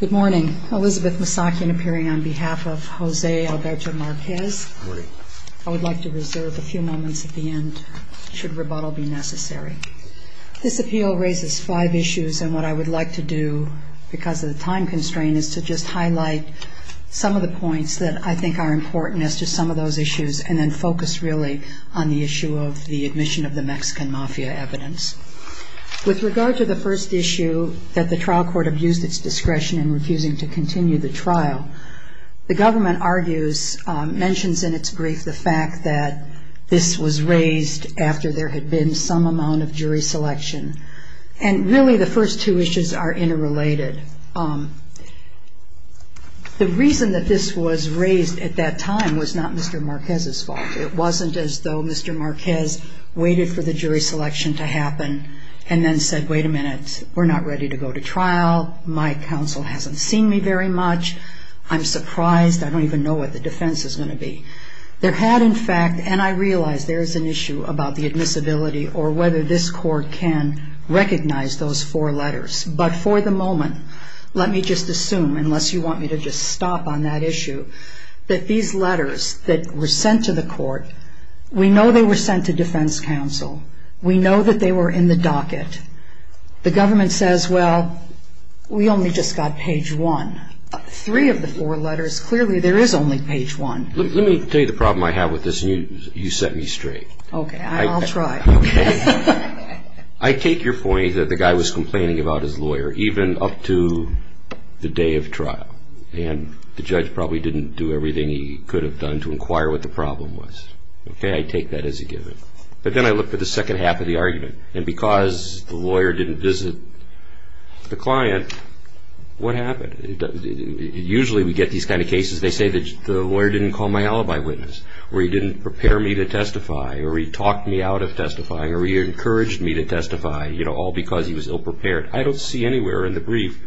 I would like to reserve a few moments at the end, should rebuttal be necessary. This appeal raises five issues and what I would like to do, because of the time constraint, is to just highlight some of the points that I think are important as to some of those issues and then focus really on the issue of the admission of the Mexican mafia evidence. With regard to the first issue, that the trial court abused its discretion in refusing to continue the trial, the government argues, mentions in its brief, the fact that this was raised after there had been some amount of jury selection. And really the first two issues are interrelated. The reason that this was raised at that time was not Mr. Marquez's fault. It wasn't as though Mr. Marquez waited for the jury selection to happen and then said, wait a minute, we're not ready to go to trial. My counsel hasn't seen me very much. I'm surprised. I don't even know what the defense is going to be. There had, in fact, and I realize there is an issue about the admissibility or whether this court can recognize those four letters. But for the moment, let me just assume, unless you want me to just stop on that issue, that these letters that were sent to the court, we know they were sent to defense counsel. We know that they were in the docket. The government says, well, we only just got page one. Three of the four letters, clearly there is only page one. Let me tell you the problem I have with this and you set me straight. Okay, I'll try. I take your point that the guy was complaining about his lawyer even up to the day of trial. And the judge probably didn't do everything he could have done to inquire what the problem was. Okay, I take that as a given. But then I look for the second half of the argument. And because the lawyer didn't visit the client, what happened? Usually we get these kind of cases, they say that the lawyer didn't call my alibi witness, or he didn't prepare me to testify, or he talked me out of testifying, or he encouraged me to testify, you know, all because he was ill-prepared. I don't see anywhere in the brief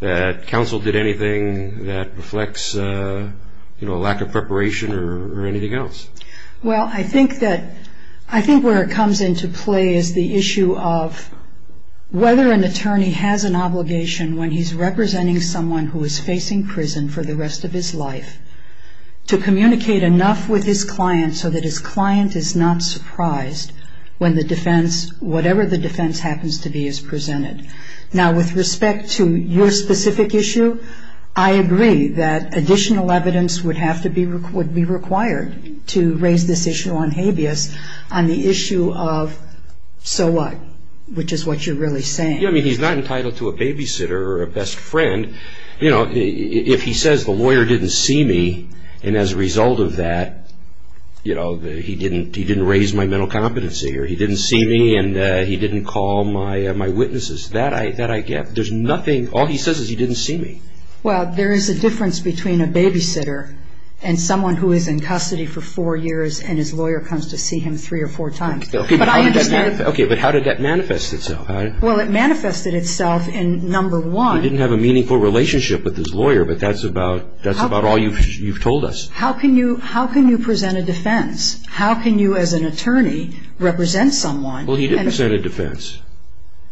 that counsel did anything that reflects, you know, a lack of preparation or anything else. Well, I think that, I think where it comes into play is the issue of whether an attorney has an obligation when he's representing someone who is facing prison for the rest of his life to communicate enough with his client so that his client is not surprised when the defense, whatever the defense happens to be, is presented. Now with respect to your specific issue, I agree that additional evidence would have to be, would be required to raise this issue on habeas on the issue of, so what, which is what you're really saying. Yeah, I mean, he's not entitled to a babysitter or a best friend. You know, if he says the lawyer didn't see me, and as a result of that, you know, he didn't, he didn't raise my mental competency, or he didn't see me, and he didn't call my witnesses. That I get. There's nothing, all he says is he didn't see me. Well, there is a difference between a babysitter and someone who is in custody for four years and his lawyer comes to see him three or four times. Okay, but how did that manifest itself? Well, it manifested itself in, number one. He didn't have a meaningful relationship with his lawyer, but that's about, that's about all you've told us. How can you, how can you present a defense? How can you, as an attorney, represent someone? Well, he didn't present a defense,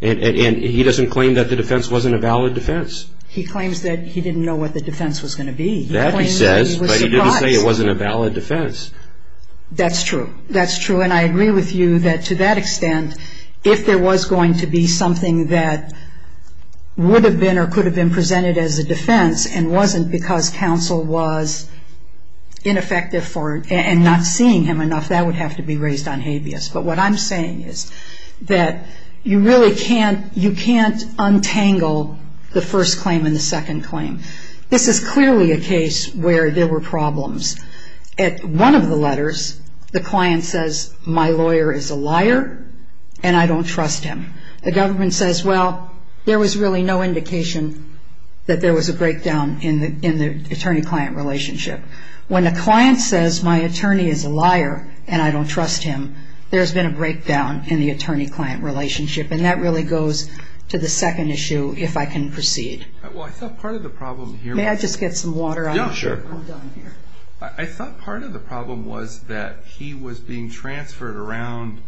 and he doesn't claim that the defense wasn't a valid defense. He claims that he didn't know what the defense was going to be. That he says, but he didn't say it wasn't a valid defense. That's true. That's true, and I agree with you that to that extent, if there was going to be something that would have been or could have been presented as a defense and wasn't because counsel was ineffective for, and not seeing him enough, that would have to be raised on habeas. But what I'm saying is that you really can't, you can't untangle the first claim and the second claim. This is clearly a case where there were problems. At one of the letters, the client says, my lawyer is a liar and I don't trust him. The government says, well, there was really no indication that there was a breakdown in the attorney-client relationship. When a client says, my attorney is a liar and I don't trust him, there's been a breakdown in the attorney-client relationship, and that really goes to the second issue, if I can proceed. Well, I thought part of the problem here was... May I just get some water on this? Yeah, sure. I'm done here. I thought part of the problem was that he was being transferred around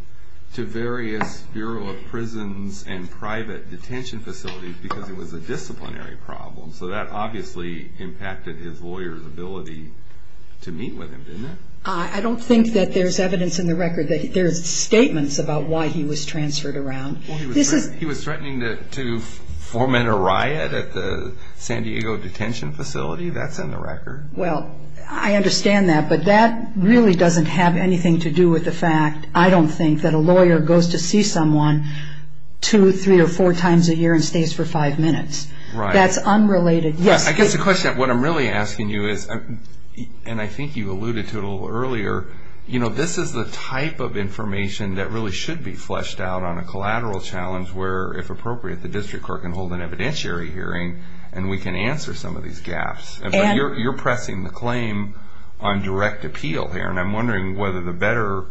to various Bureau of Prisons and private detention facilities because it was a disciplinary problem. So that obviously impacted his lawyer's ability to meet with him, didn't it? I don't think that there's evidence in the record that there's statements about why he was transferred around. He was threatening to foment a riot at the San Diego detention facility? That's in the record. Well, I understand that, but that really doesn't have anything to do with the fact, I don't think, that a lawyer goes to see someone two, three, or four times a year and stays for five minutes. That's unrelated. I guess the question, what I'm really asking you is, and I think you alluded to it a little earlier, this is the type of information that really should be fleshed out on a collateral challenge where, if appropriate, the district court can hold an evidentiary hearing and we can answer some of these gaps. You're pressing the claim on direct appeal here, and I'm wondering whether the better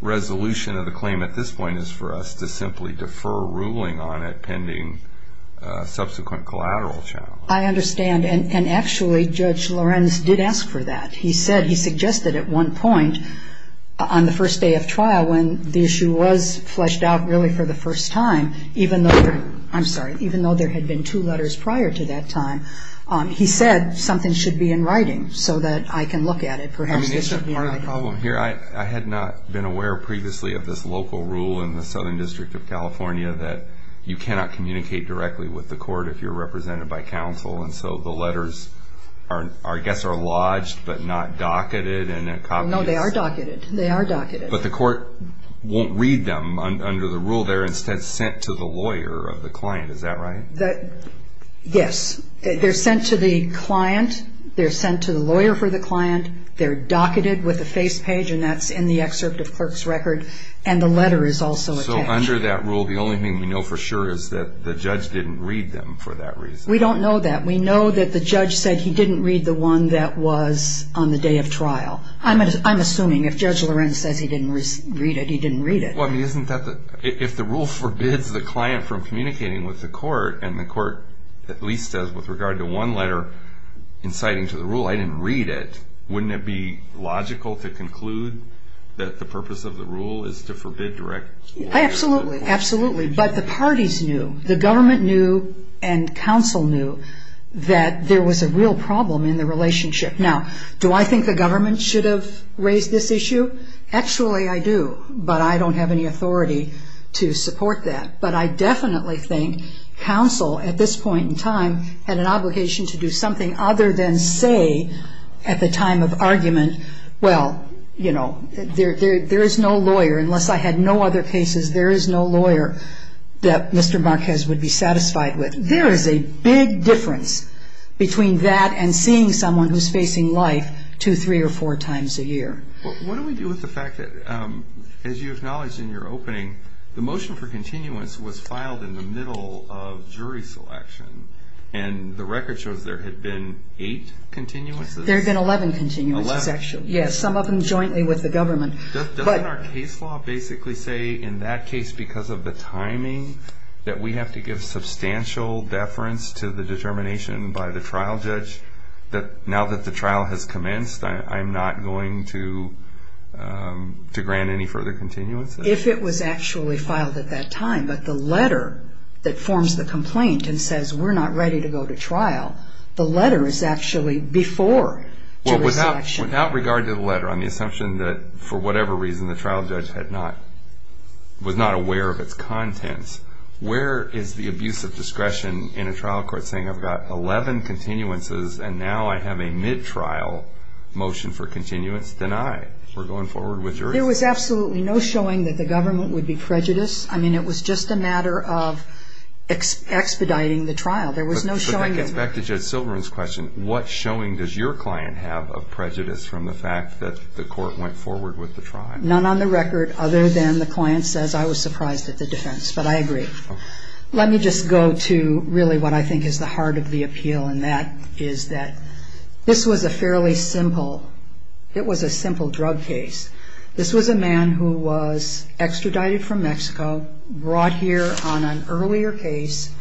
resolution of the claim at this point is for us to simply defer ruling on it pending subsequent collateral challenge. I understand, and actually, Judge Lorenz did ask for that. He said, he suggested at one point on the first day of trial when the issue was fleshed out really for the first time, even though there had been two letters prior to that time, he said something should be in writing so that I can look at it. Perhaps this should be in writing. I have a problem here. I had not been aware previously of this local rule in the Southern District of California that you cannot communicate directly with the court if you're represented by counsel, and so the letters are, I guess, are lodged but not docketed in a copy. No, they are docketed. They are docketed. But the court won't read them under the rule. They're instead sent to the lawyer of the client. Is that right? Yes. They're sent to the client. They're sent to the lawyer for the client. They're docketed with a face page, and that's in the excerpt of clerk's record, and the letter is also attached. So under that rule, the only thing we know for sure is that the judge didn't read them for that reason. We don't know that. We know that the judge said he didn't read the one that was on the day of trial. I'm assuming if Judge Lorenz says he didn't read it, he didn't read it. Well, I mean, isn't that the, if the rule forbids the client from communicating with the court, and the court at least says with regard to one letter inciting to the rule, I didn't read it, wouldn't it be logical to conclude that the purpose of the rule is to forbid direct communication? Absolutely. Absolutely. But the parties knew, the government knew, and counsel knew that there was a real problem in the relationship. Now, do I think the government should have raised this issue? Actually, I do, but I don't have any authority to support that. But I definitely think counsel at this point in time had an obligation to do something other than say, at the time of argument, well, you know, there is no lawyer, unless I had no other cases, there is no lawyer that Mr. Marquez would be satisfied with. There is a big difference between that and seeing someone who's facing life two, three, or four times a year. Well, what do we do with the fact that, as you acknowledged in your opening, the motion for continuance was filed in the middle of jury selection, and the record shows there had been eight continuances? There had been 11 continuances, actually. 11? Yes, some of them jointly with the government. Doesn't our case law basically say, in that case, because of the timing, that we have to give substantial deference to the determination by the trial judge that, now that the trial has commenced, I'm not going to grant any further continuances? If it was actually filed at that time, but the letter that forms the complaint and says, we're not ready to go to trial, the letter is actually before jury selection. Well, without regard to the letter, on the assumption that, for whatever reason, the trial judge was not aware of its contents, where is the abuse of discretion in a trial court saying, I've got 11 continuances, and now I have a mid-trial motion for continuance? Deny. We're going forward with jury selection. There was absolutely no showing that the government would be prejudiced. I mean, it was just a matter of expediting the trial. There was no showing. It gets back to Judge Silverman's question. What showing does your client have of prejudice from the fact that the court went forward with the trial? None on the record other than the client says, I was surprised at the defense, but I agree. Let me just go to really what I think is the heart of the appeal, and that is that this was a fairly simple, it was a simple drug case. This was a man who was extradited from Mexico, brought here on an earlier case,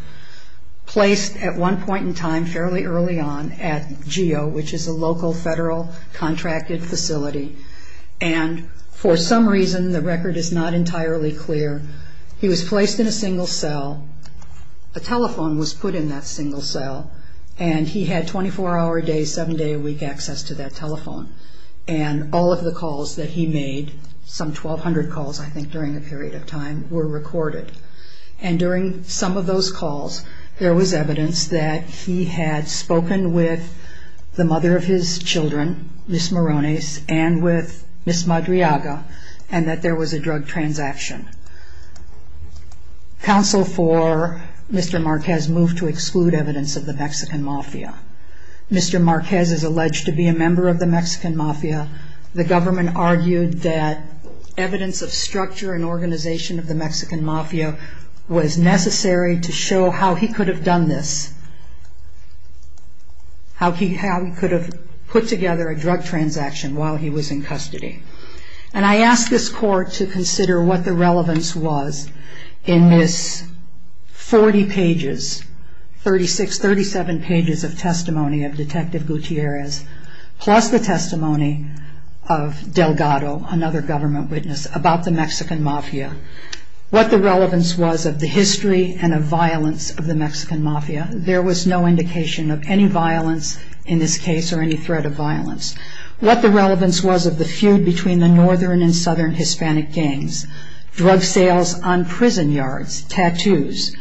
placed at one point in time, fairly early on, at GEO, which is a local federal contracted facility. And for some reason, the record is not entirely clear, he was placed in a single cell, a telephone was put in that single cell, and he had 24-hour-a-day, seven-day-a-week access to that telephone. And all of the calls that he made, some 1,200 calls, I think, during a period of time, were recorded. And during some of those calls, there was evidence that he had spoken with the mother of his children, Ms. Morones, and with Ms. Madriaga, and that there was a drug transaction. Counsel for Mr. Marquez moved to exclude evidence of the Mexican mafia. Mr. Marquez is alleged to be a member of the Mexican mafia. The government argued that evidence of structure and organization of the Mexican mafia was necessary to show how he could have done this, how he could have put together a drug transaction while he was in custody. And I asked this court to consider what the relevance was in this 40 pages, 36, 37 pages of testimony of Detective Gutierrez, plus the testimony of Delgado, another government witness, about the Mexican mafia. What the relevance was of the history and of violence of the Mexican mafia. There was no indication of any violence in this case or any threat of violence. What the relevance was of the feud between the northern and southern Hispanic gangs, drug sales on prison yards, tattoos,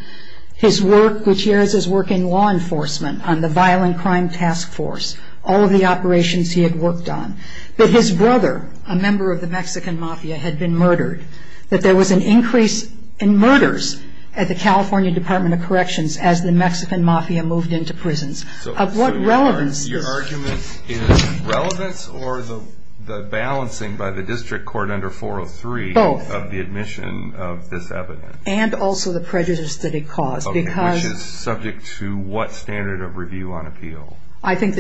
his work, Gutierrez's work in law enforcement on the Violent Crime Task Force, all of the operations he had worked on, that his brother, a member of the Mexican mafia, had been murdered, that there was an increase in murders at the California Department of Corrections as the Mexican mafia moved into prisons. Of what relevance is this? So your argument is relevance or the balancing by the district court under 403 of the admission of this evidence? Both. And also the prejudice that it caused, because... I think the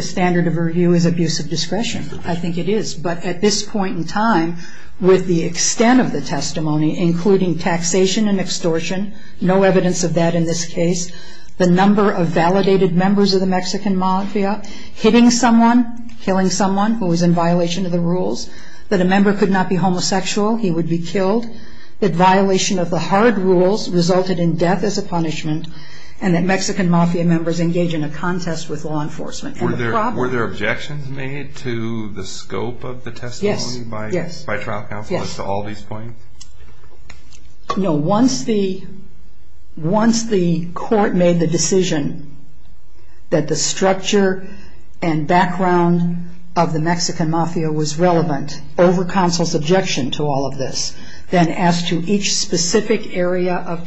standard of review is abuse of discretion. I think it is. But at this point in time, with the extent of the testimony, including taxation and extortion, no evidence of that in this case, the number of validated members of the Mexican mafia, hitting someone, killing someone who was in violation of the rules, that a member could not be homosexual, he would be killed, that violation of the hard rules resulted in death as a punishment, and that Mexican mafia members engage in a contest with law enforcement. Were there objections made to the scope of the testimony by trial counselors to all these points? Yes. Yes. No. Once the court made the decision that the structure and background of the Mexican mafia was relevant over counsel's objection to all of this, then as to each specific area of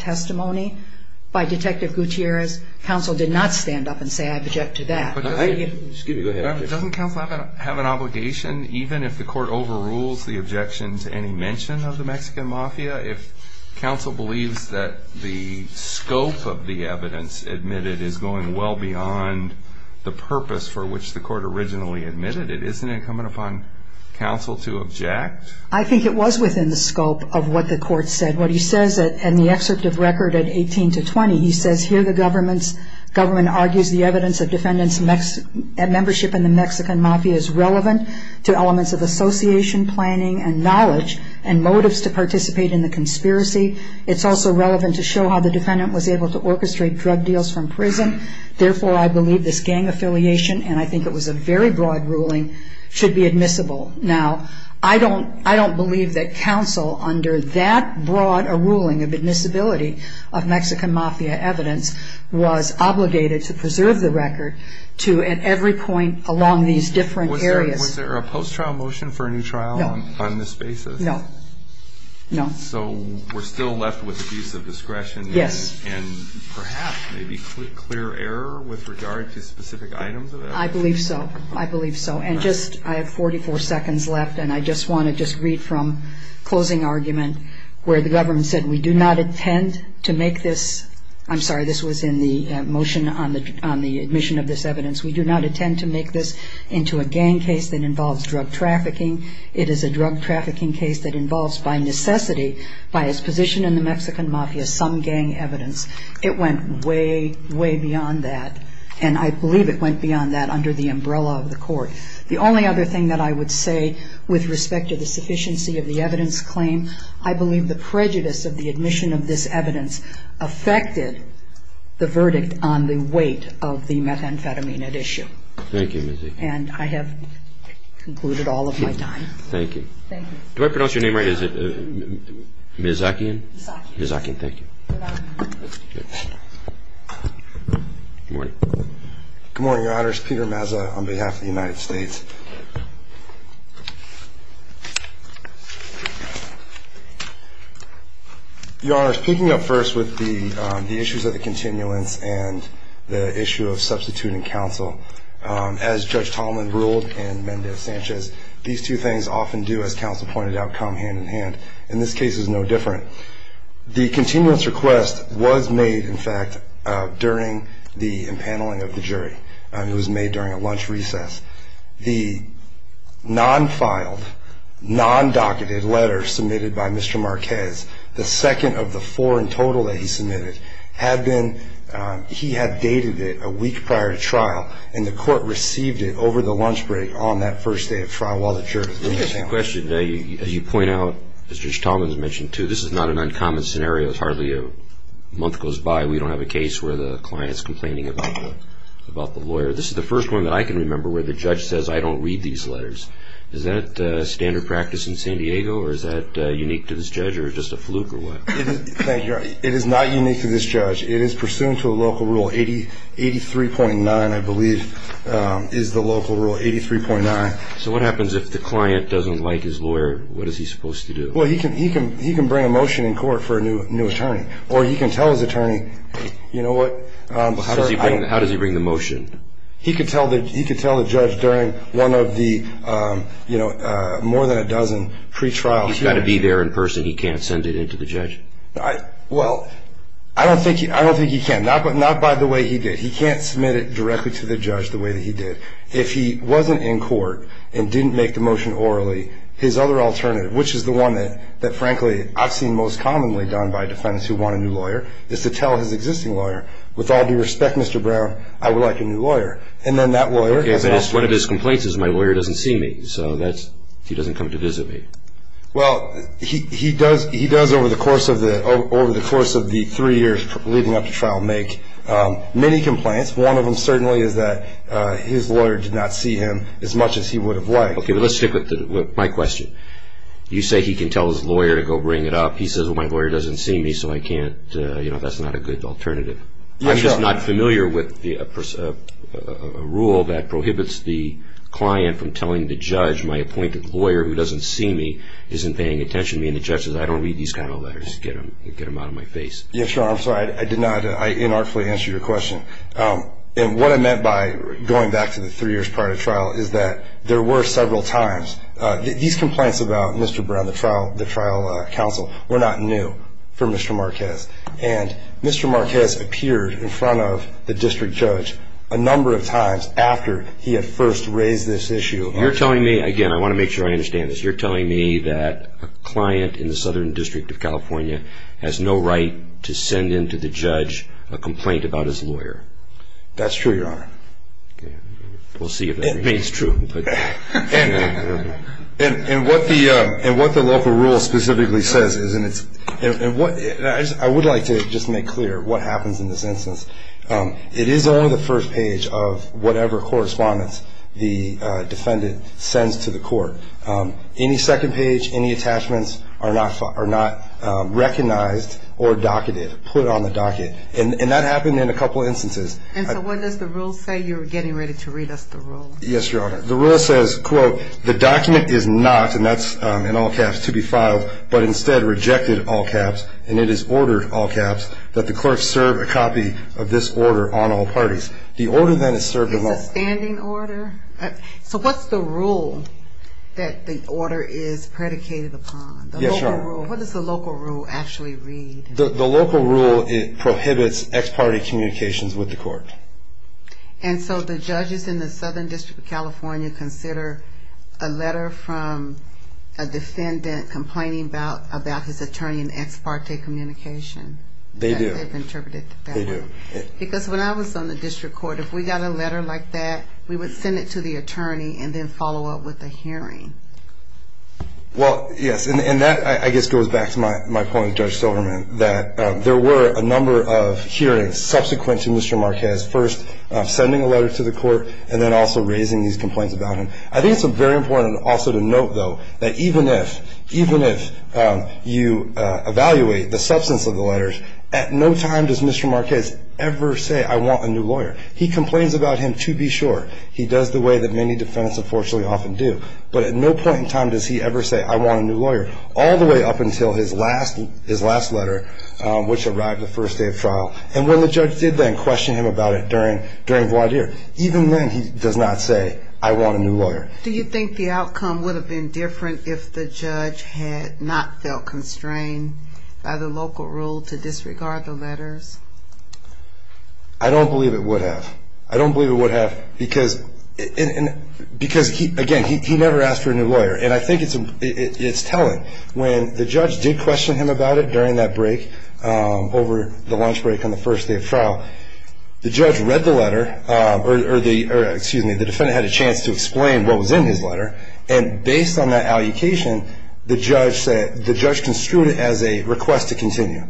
by Detective Gutierrez, counsel did not stand up and say, I object to that. Excuse me. Go ahead. Doesn't counsel have an obligation, even if the court overrules the objection to any mention of the Mexican mafia, if counsel believes that the scope of the evidence admitted is going well beyond the purpose for which the court originally admitted it, isn't it incumbent upon counsel to object? I think it was within the scope of what the court said. What he says in the excerpt of record at 18 to 20, he says, here the government argues the evidence of defendants' membership in the Mexican mafia is relevant to elements of association, planning, and knowledge, and motives to participate in the conspiracy. It's also relevant to show how the defendant was able to orchestrate drug deals from prison. Therefore, I believe this gang affiliation, and I think it was a very broad ruling, should be admissible. Now, I don't believe that counsel, under that broad a ruling of admissibility of Mexican mafia evidence, was obligated to preserve the record to, at every point along these different areas. Was there a post-trial motion for a new trial on this basis? No. No. So, we're still left with abuse of discretion and perhaps maybe clear error with regard to specific items of evidence? I believe so. I believe so. And just, I have 44 seconds left, and I just want to just read from closing argument where the government said, we do not intend to make this, I'm sorry, this was in the motion on the admission of this evidence, we do not intend to make this into a gang case that involves drug trafficking. It is a drug trafficking case that involves, by necessity, by its position in the Mexican mafia, some gang evidence. It went way, way beyond that, and I believe it went beyond that under the umbrella of the court. The only other thing that I would say with respect to the sufficiency of the evidence claim, I believe the prejudice of the admission of this evidence affected the verdict on the weight of the methamphetamine at issue. Thank you, Ms. Akin. And I have concluded all of my time. Thank you. Thank you. Do I pronounce your name right? Is it Ms. Akin? Ms. Akin. Thank you. Good morning. Good morning, Your Honors. My name is Peter Mazza on behalf of the United States. Your Honors, picking up first with the issues of the continuance and the issue of substituting counsel, as Judge Tallman ruled and Mendez Sanchez, these two things often do, as counsel pointed out, come hand in hand, and this case is no different. The continuance request was made, in fact, during the impaneling of the jury. It was made during a lunch recess. The non-filed, non-docketed letter submitted by Mr. Marquez, the second of the four in total that he submitted, had been, he had dated it a week prior to trial, and the court received it over the lunch break on that first day of trial while the jury was in the panel. Interesting question. As you point out, as Judge Tallman has mentioned, too, this is not an uncommon scenario. It's hardly a month goes by we don't have a case where the client is complaining about the lawyer. This is the first one that I can remember where the judge says, I don't read these letters. Is that standard practice in San Diego, or is that unique to this judge, or just a fluke, or what? Thank you. It is not unique to this judge. It is pursuant to a local rule, 83.9, I believe, is the local rule, 83.9. So what happens if the client doesn't like his lawyer? What is he supposed to do? Well, he can bring a motion in court for a new attorney, or he can tell his attorney, You know what? How does he bring the motion? He can tell the judge during one of the more than a dozen pre-trials. He's got to be there in person. He can't send it in to the judge. Well, I don't think he can. Not by the way he did. He can't submit it directly to the judge the way that he did. If he wasn't in court and didn't make the motion orally, his other alternative, which is the one that, frankly, I've seen most commonly done by defendants who want a new lawyer, is to tell his existing lawyer, with all due respect, Mr. Brown, I would like a new lawyer. And then that lawyer has no choice. Okay, so one of his complaints is my lawyer doesn't see me, so he doesn't come to visit me. Well, he does over the course of the three years leading up to trial make many complaints. One of them certainly is that his lawyer did not see him as much as he would have liked. Okay, but let's stick with my question. You say he can tell his lawyer to go bring it up. He says, well, my lawyer doesn't see me, so I can't, you know, that's not a good alternative. I'm just not familiar with a rule that prohibits the client from telling the judge my appointed lawyer who doesn't see me isn't paying attention to me, and the judge says, I don't read these kind of letters. Get them out of my face. Yeah, sure. I'm sorry. I did not, I inartfully answered your question. And what I meant by going back to the three years prior to trial is that there were several times. These complaints about Mr. Brown, the trial counsel, were not new for Mr. Marquez. And Mr. Marquez appeared in front of the district judge a number of times after he had first raised this issue. You're telling me, again, I want to make sure I understand this. You're telling me that a client in the Southern District of California has no right to send in to the judge a complaint about his lawyer. That's true, Your Honor. We'll see if that remains true. And what the local rule specifically says is, and I would like to just make clear what happens in this instance, it is only the first page of whatever correspondence the defendant sends to the court. Any second page, any attachments are not recognized or docketed, put on the docket. And that happened in a couple instances. And so what does the rule say? You're getting ready to read us the rule. Yes, Your Honor. The rule says, quote, the document is not, and that's in all caps, to be filed, but instead rejected, all caps, and it is ordered, all caps, that the clerk serve a copy of this order on all parties. The order then is served alone. Is this a standing order? So what's the rule that the order is predicated upon? Yes, Your Honor. What does the local rule actually read? The local rule, it prohibits ex parte communications with the court. And so the judges in the Southern District of California consider a letter from a defendant complaining about his attorney and ex parte communication? They do. They've interpreted it that way. They do. Because when I was on the district court, if we got a letter like that, we would send it to the attorney and then follow up with a hearing. Well, yes. And that, I guess, goes back to my point with Judge Silverman, that there were a number of hearings subsequent to Mr. Marquez, first sending a letter to the court and then also raising these complaints about him. I think it's very important also to note, though, that even if you evaluate the substance of the letters, at no time does Mr. Marquez ever say, I want a new lawyer. He complains about him, to be sure. He does the way that many defendants, unfortunately, often do. But at no point in time does he ever say, I want a new lawyer, all the way up until his last letter, which arrived the first day of trial. And when the judge did then question him about it during voir dire, even then he does not say, I want a new lawyer. Do you think the outcome would have been different if the judge had not felt constrained by the local rule to disregard the letters? I don't believe it would have. I don't believe it would have because, again, he never asked for a new lawyer. And I think it's telling. When the judge did question him about it during that break, over the lunch break on the first day of trial, the judge read the letter, or excuse me, the defendant had a chance to explain what was in his letter, and based on that allocation, the judge construed it as a request to continue,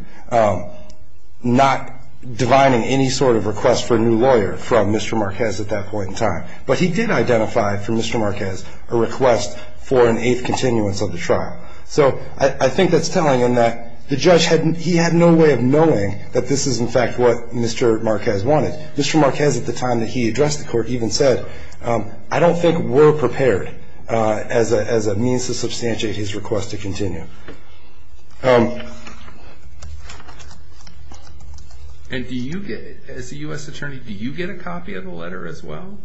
not divining any sort of request for a new lawyer from Mr. Marquez at that point in time. But he did identify for Mr. Marquez a request for an eighth continuance of the trial. So I think that's telling in that the judge, he had no way of knowing that this is in fact what Mr. Marquez wanted. Mr. Marquez, at the time that he addressed the court, even said, I don't think we're prepared as a means to substantiate his request to continue. And do you get, as a U.S. attorney, do you get a copy of the letter as well?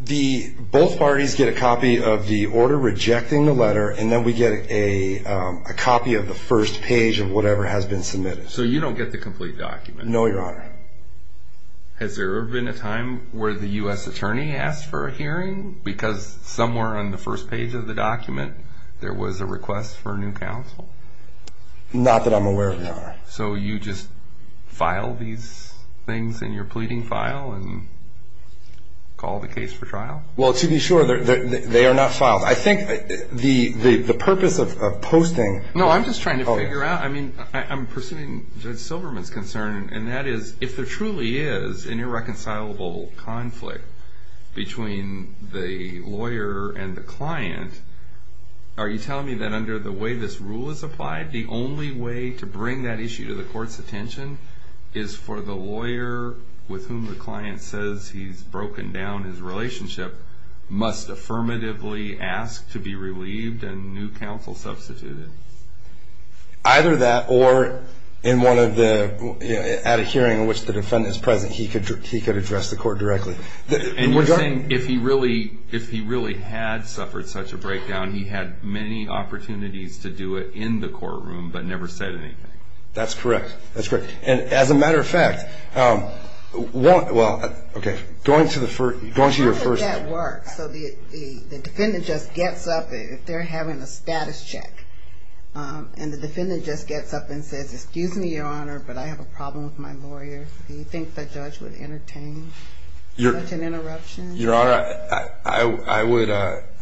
Both parties get a copy of the order rejecting the letter, and then we get a copy of the first page of whatever has been submitted. So you don't get the complete document? No, Your Honor. Has there ever been a time where the U.S. attorney asked for a hearing? Because somewhere on the first page of the document, there was a request for a new counsel? Not that I'm aware of, Your Honor. So you just file these things in your pleading file and call the case for trial? Well, to be sure, they are not filed. I think the purpose of posting- No, I'm just trying to figure out, I mean, I'm pursuing Judge Silverman's concern, and that is, if there truly is an irreconcilable conflict between the lawyer and the client, are you telling me that under the way this rule is applied, the only way to bring that issue to the court's attention is for the lawyer with whom the client says he's broken down his relationship must affirmatively ask to be relieved and new counsel substituted? Either that, or at a hearing in which the defendant is present, he could address the court directly. And you're saying if he really had suffered such a breakdown, he had many opportunities to do it in the courtroom, but never said anything? That's correct. That's correct. And as a matter of fact, well, okay, going to your first- So the defendant just gets up, they're having a status check, and the defendant just gets up and says, excuse me, Your Honor, but I have a problem with my lawyer. Do you think the judge would entertain such an interruption? Your Honor, I would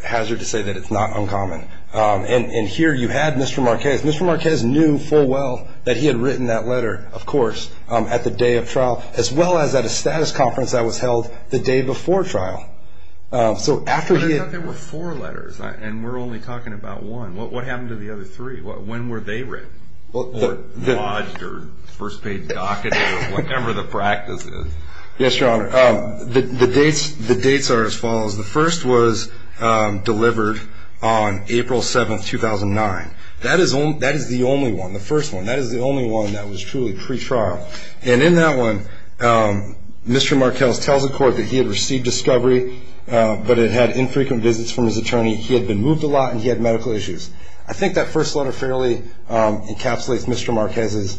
hazard to say that it's not uncommon. And here you had Mr. Marquez. Mr. Marquez knew full well that he had written that letter, of course, at the day of trial, as well as at a status conference that was held the day before trial. So after he had- But I thought there were four letters, and we're only talking about one. What happened to the other three? When were they written, or lodged, or first-paid docketed, or whatever the practice is? Yes, Your Honor. The dates are as follows. The first was delivered on April 7th, 2009. That is the only one, the first one. That is the only one that was truly pretrial. And in that one, Mr. Marquez tells the court that he had received discovery, but it had infrequent visits from his attorney, he had been moved a lot, and he had medical issues. I think that first letter fairly encapsulates Mr. Marquez's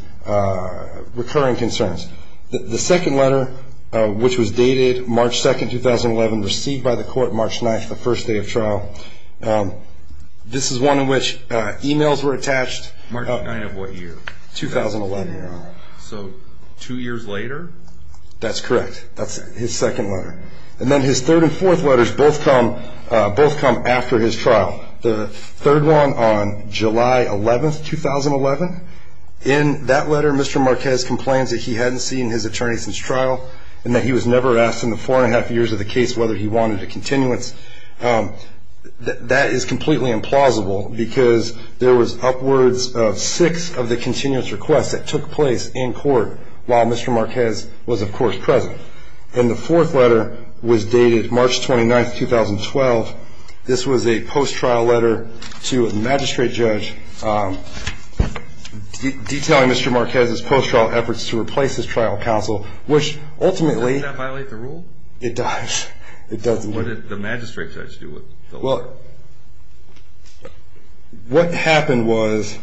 recurring concerns. The second letter, which was dated March 2nd, 2011, received by the court March 9th, the first day of trial. This is one in which emails were attached- March 9th of what year? 2011, Your Honor. So, two years later? That's correct. That's his second letter. And then his third and fourth letters both come after his trial. The third one on July 11th, 2011, in that letter Mr. Marquez complains that he hadn't seen his attorney since trial, and that he was never asked in the four and a half years of the case whether he wanted a continuance. That is completely implausible, because there was upwards of six of the continuance requests that took place in court while Mr. Marquez was, of course, present. And the fourth letter was dated March 29th, 2012. This was a post-trial letter to a magistrate judge detailing Mr. Marquez's post-trial efforts to replace his trial counsel, which ultimately- Does that violate the rule? It does. What did the magistrate judge do with the letter? Well, what happened was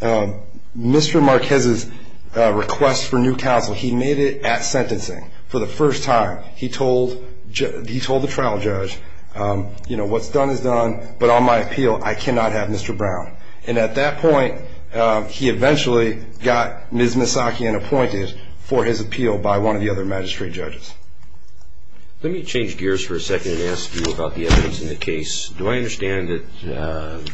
Mr. Marquez's request for new counsel, he made it at sentencing for the first time. He told the trial judge, you know, what's done is done, but on my appeal, I cannot have Mr. Brown. And at that point, he eventually got Ms. Misaki unappointed for his appeal by one of the other magistrate judges. Let me change gears for a second and ask you about the evidence in the case. Do I understand that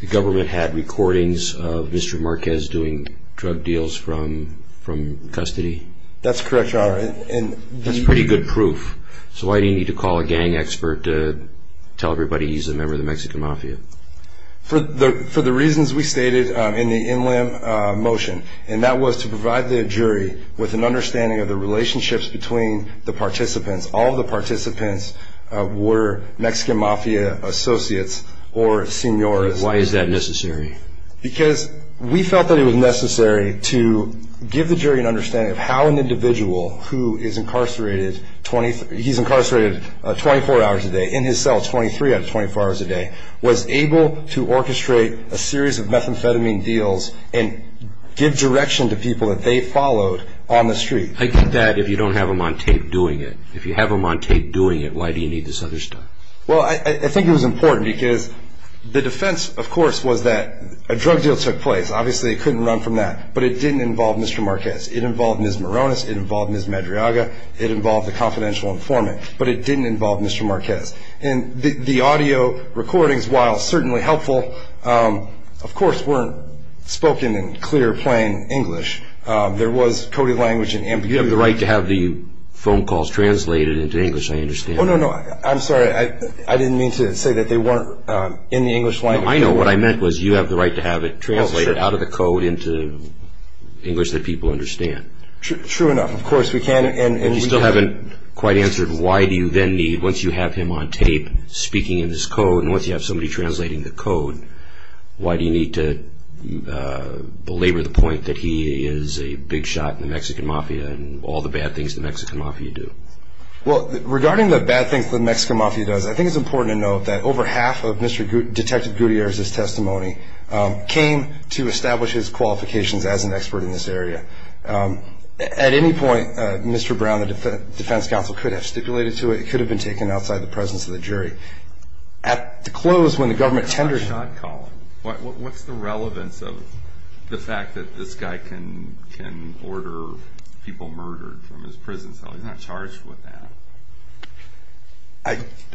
the government had recordings of Mr. Marquez doing drug deals from custody? That's correct, Your Honor. And- That's pretty good proof. So why do you need to call a gang expert to tell everybody he's a member of the Mexican Mafia? For the reasons we stated in the in-limb motion, and that was to provide the jury with an understanding of the relationships between the participants. All of the participants were Mexican Mafia associates or senores. Why is that necessary? Because we felt that it was necessary to give the jury an understanding of how an individual who is incarcerated 24 hours a day, in his cell 23 out of 24 hours a day, was able to orchestrate a series of methamphetamine deals and give direction to people that they followed on the street. I get that if you don't have them on tape doing it. If you have them on tape doing it, why do you need this other stuff? Well, I think it was important because the defense, of course, was that a drug deal took place. Obviously, it couldn't run from that. But it didn't involve Mr. Marquez. It involved Ms. Morones. It involved Ms. Madriaga. It involved the confidential informant. But it didn't involve Mr. Marquez. And the audio recordings, while certainly helpful, of course, weren't spoken in clear, plain English. There was coded language in ambiguity. You have the right to have the phone calls translated into English. I understand. Oh, no, no. I'm sorry. I didn't mean to say that they weren't in the English language. I know. What I meant was you have the right to have it translated out of the code into English that people understand. True enough. Of course, we can. And we can. You still haven't quite answered why do you then need, once you have him on tape speaking in this code, and once you have somebody translating the code, why do you need to belabor the point that he is a big shot in the Mexican Mafia and all the bad things the Mexican Mafia do? Well, regarding the bad things the Mexican Mafia does, I think it's important to note that over half of Mr. Detective Gutierrez's testimony came to establish his qualifications as an expert in this area. At any point, Mr. Brown, the defense counsel, could have stipulated to it. It could have been taken outside the presence of the jury. At the close, when the government tenders- You're not a shot caller. What's the relevance of the fact that this guy can order people murdered from his prison cell? He's not charged with that.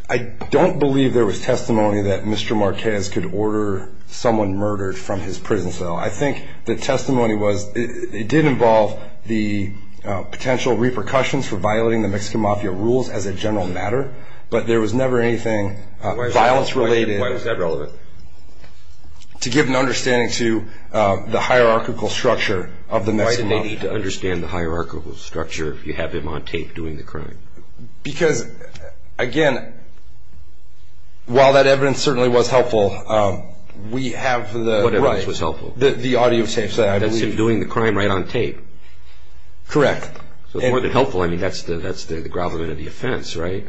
I don't believe there was testimony that Mr. Marquez could order someone murdered from his prison cell. I think the testimony was, it did involve the potential repercussions for violating the Mexican Mafia rules as a general matter, but there was never anything violence-related- to give an understanding to the hierarchical structure of the Mexican Mafia. Why did they need to understand the hierarchical structure if you have him on tape doing the crime? Because, again, while that evidence certainly was helpful, we have the- What evidence was helpful? The audio tapes that I believe- That's him doing the crime right on tape. Correct. So more than helpful, I mean, that's the grovelment of the offense, right?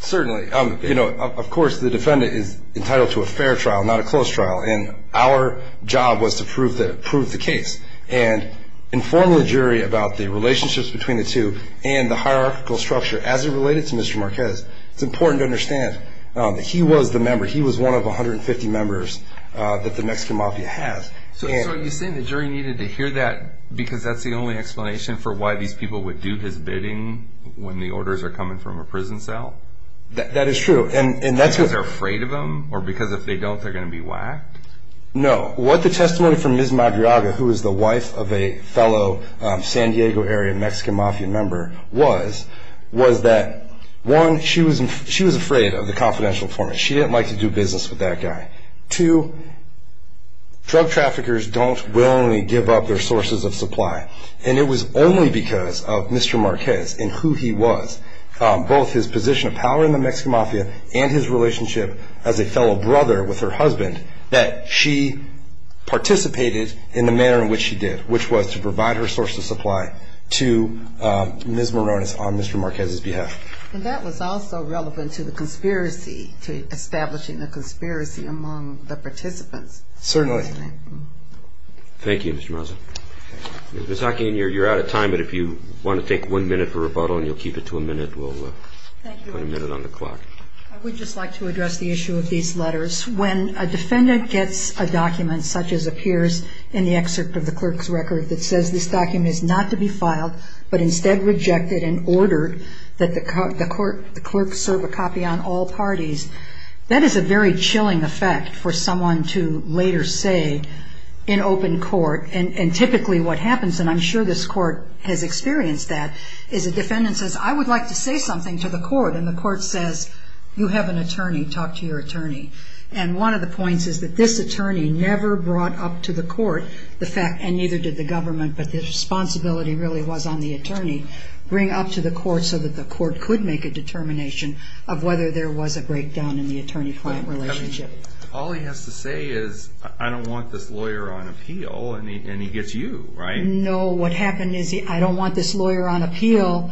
Certainly. Of course, the defendant is entitled to a fair trial, not a close trial, and our job was to prove the case and inform the jury about the relationships between the two and the hierarchical structure as it related to Mr. Marquez. It's important to understand that he was the member. He was one of 150 members that the Mexican Mafia has. So are you saying the jury needed to hear that because that's the only explanation for why these people would do his bidding when the orders are coming from a prison cell? That is true. And that's- Because they're afraid of him? Or because if they don't, they're going to be whacked? No. What the testimony from Ms. Madriaga, who is the wife of a fellow San Diego area Mexican Mafia member, was, was that, one, she was afraid of the confidential informant. She didn't like to do business with that guy. Two, drug traffickers don't willingly give up their sources of supply, and it was only because of Mr. Marquez and who he was, both his position of power in the Mexican Mafia and his relationship as a fellow brother with her husband, that she participated in the manner in which she did, which was to provide her source of supply to Ms. Morones on Mr. Marquez's behalf. And that was also relevant to the conspiracy, to establishing a conspiracy among the participants. Certainly. Thank you, Mr. Maza. Ms. Hockeyn, you're out of time, but if you want to take one minute for rebuttal and you'll keep it to a minute, we'll put a minute on the clock. Thank you. I would just like to address the issue of these letters. When a defendant gets a document such as appears in the excerpt of the clerk's record that says this document is not to be filed, but instead rejected and ordered that the clerk serve a copy on all parties, that is a very chilling effect for someone to later say in court. Typically what happens, and I'm sure this court has experienced that, is a defendant says, I would like to say something to the court, and the court says, you have an attorney, talk to your attorney. And one of the points is that this attorney never brought up to the court the fact, and neither did the government, but the responsibility really was on the attorney, bring up to the court so that the court could make a determination of whether there was a breakdown in the attorney-client relationship. All he has to say is, I don't want this lawyer on appeal, and he gets you, right? No, what happened is, I don't want this lawyer on appeal,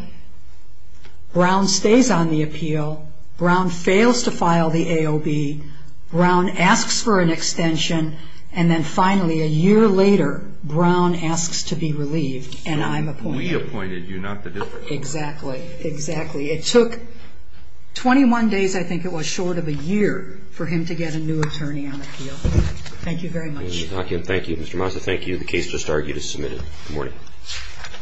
Brown stays on the appeal, Brown fails to file the AOB, Brown asks for an extension, and then finally a year later, Brown asks to be relieved, and I'm appointed. We appointed you, not the district. Exactly. It took 21 days, I think it was, short of a year for him to get a new attorney on appeal. Thank you very much. Thank you. Mr. Mazza, thank you.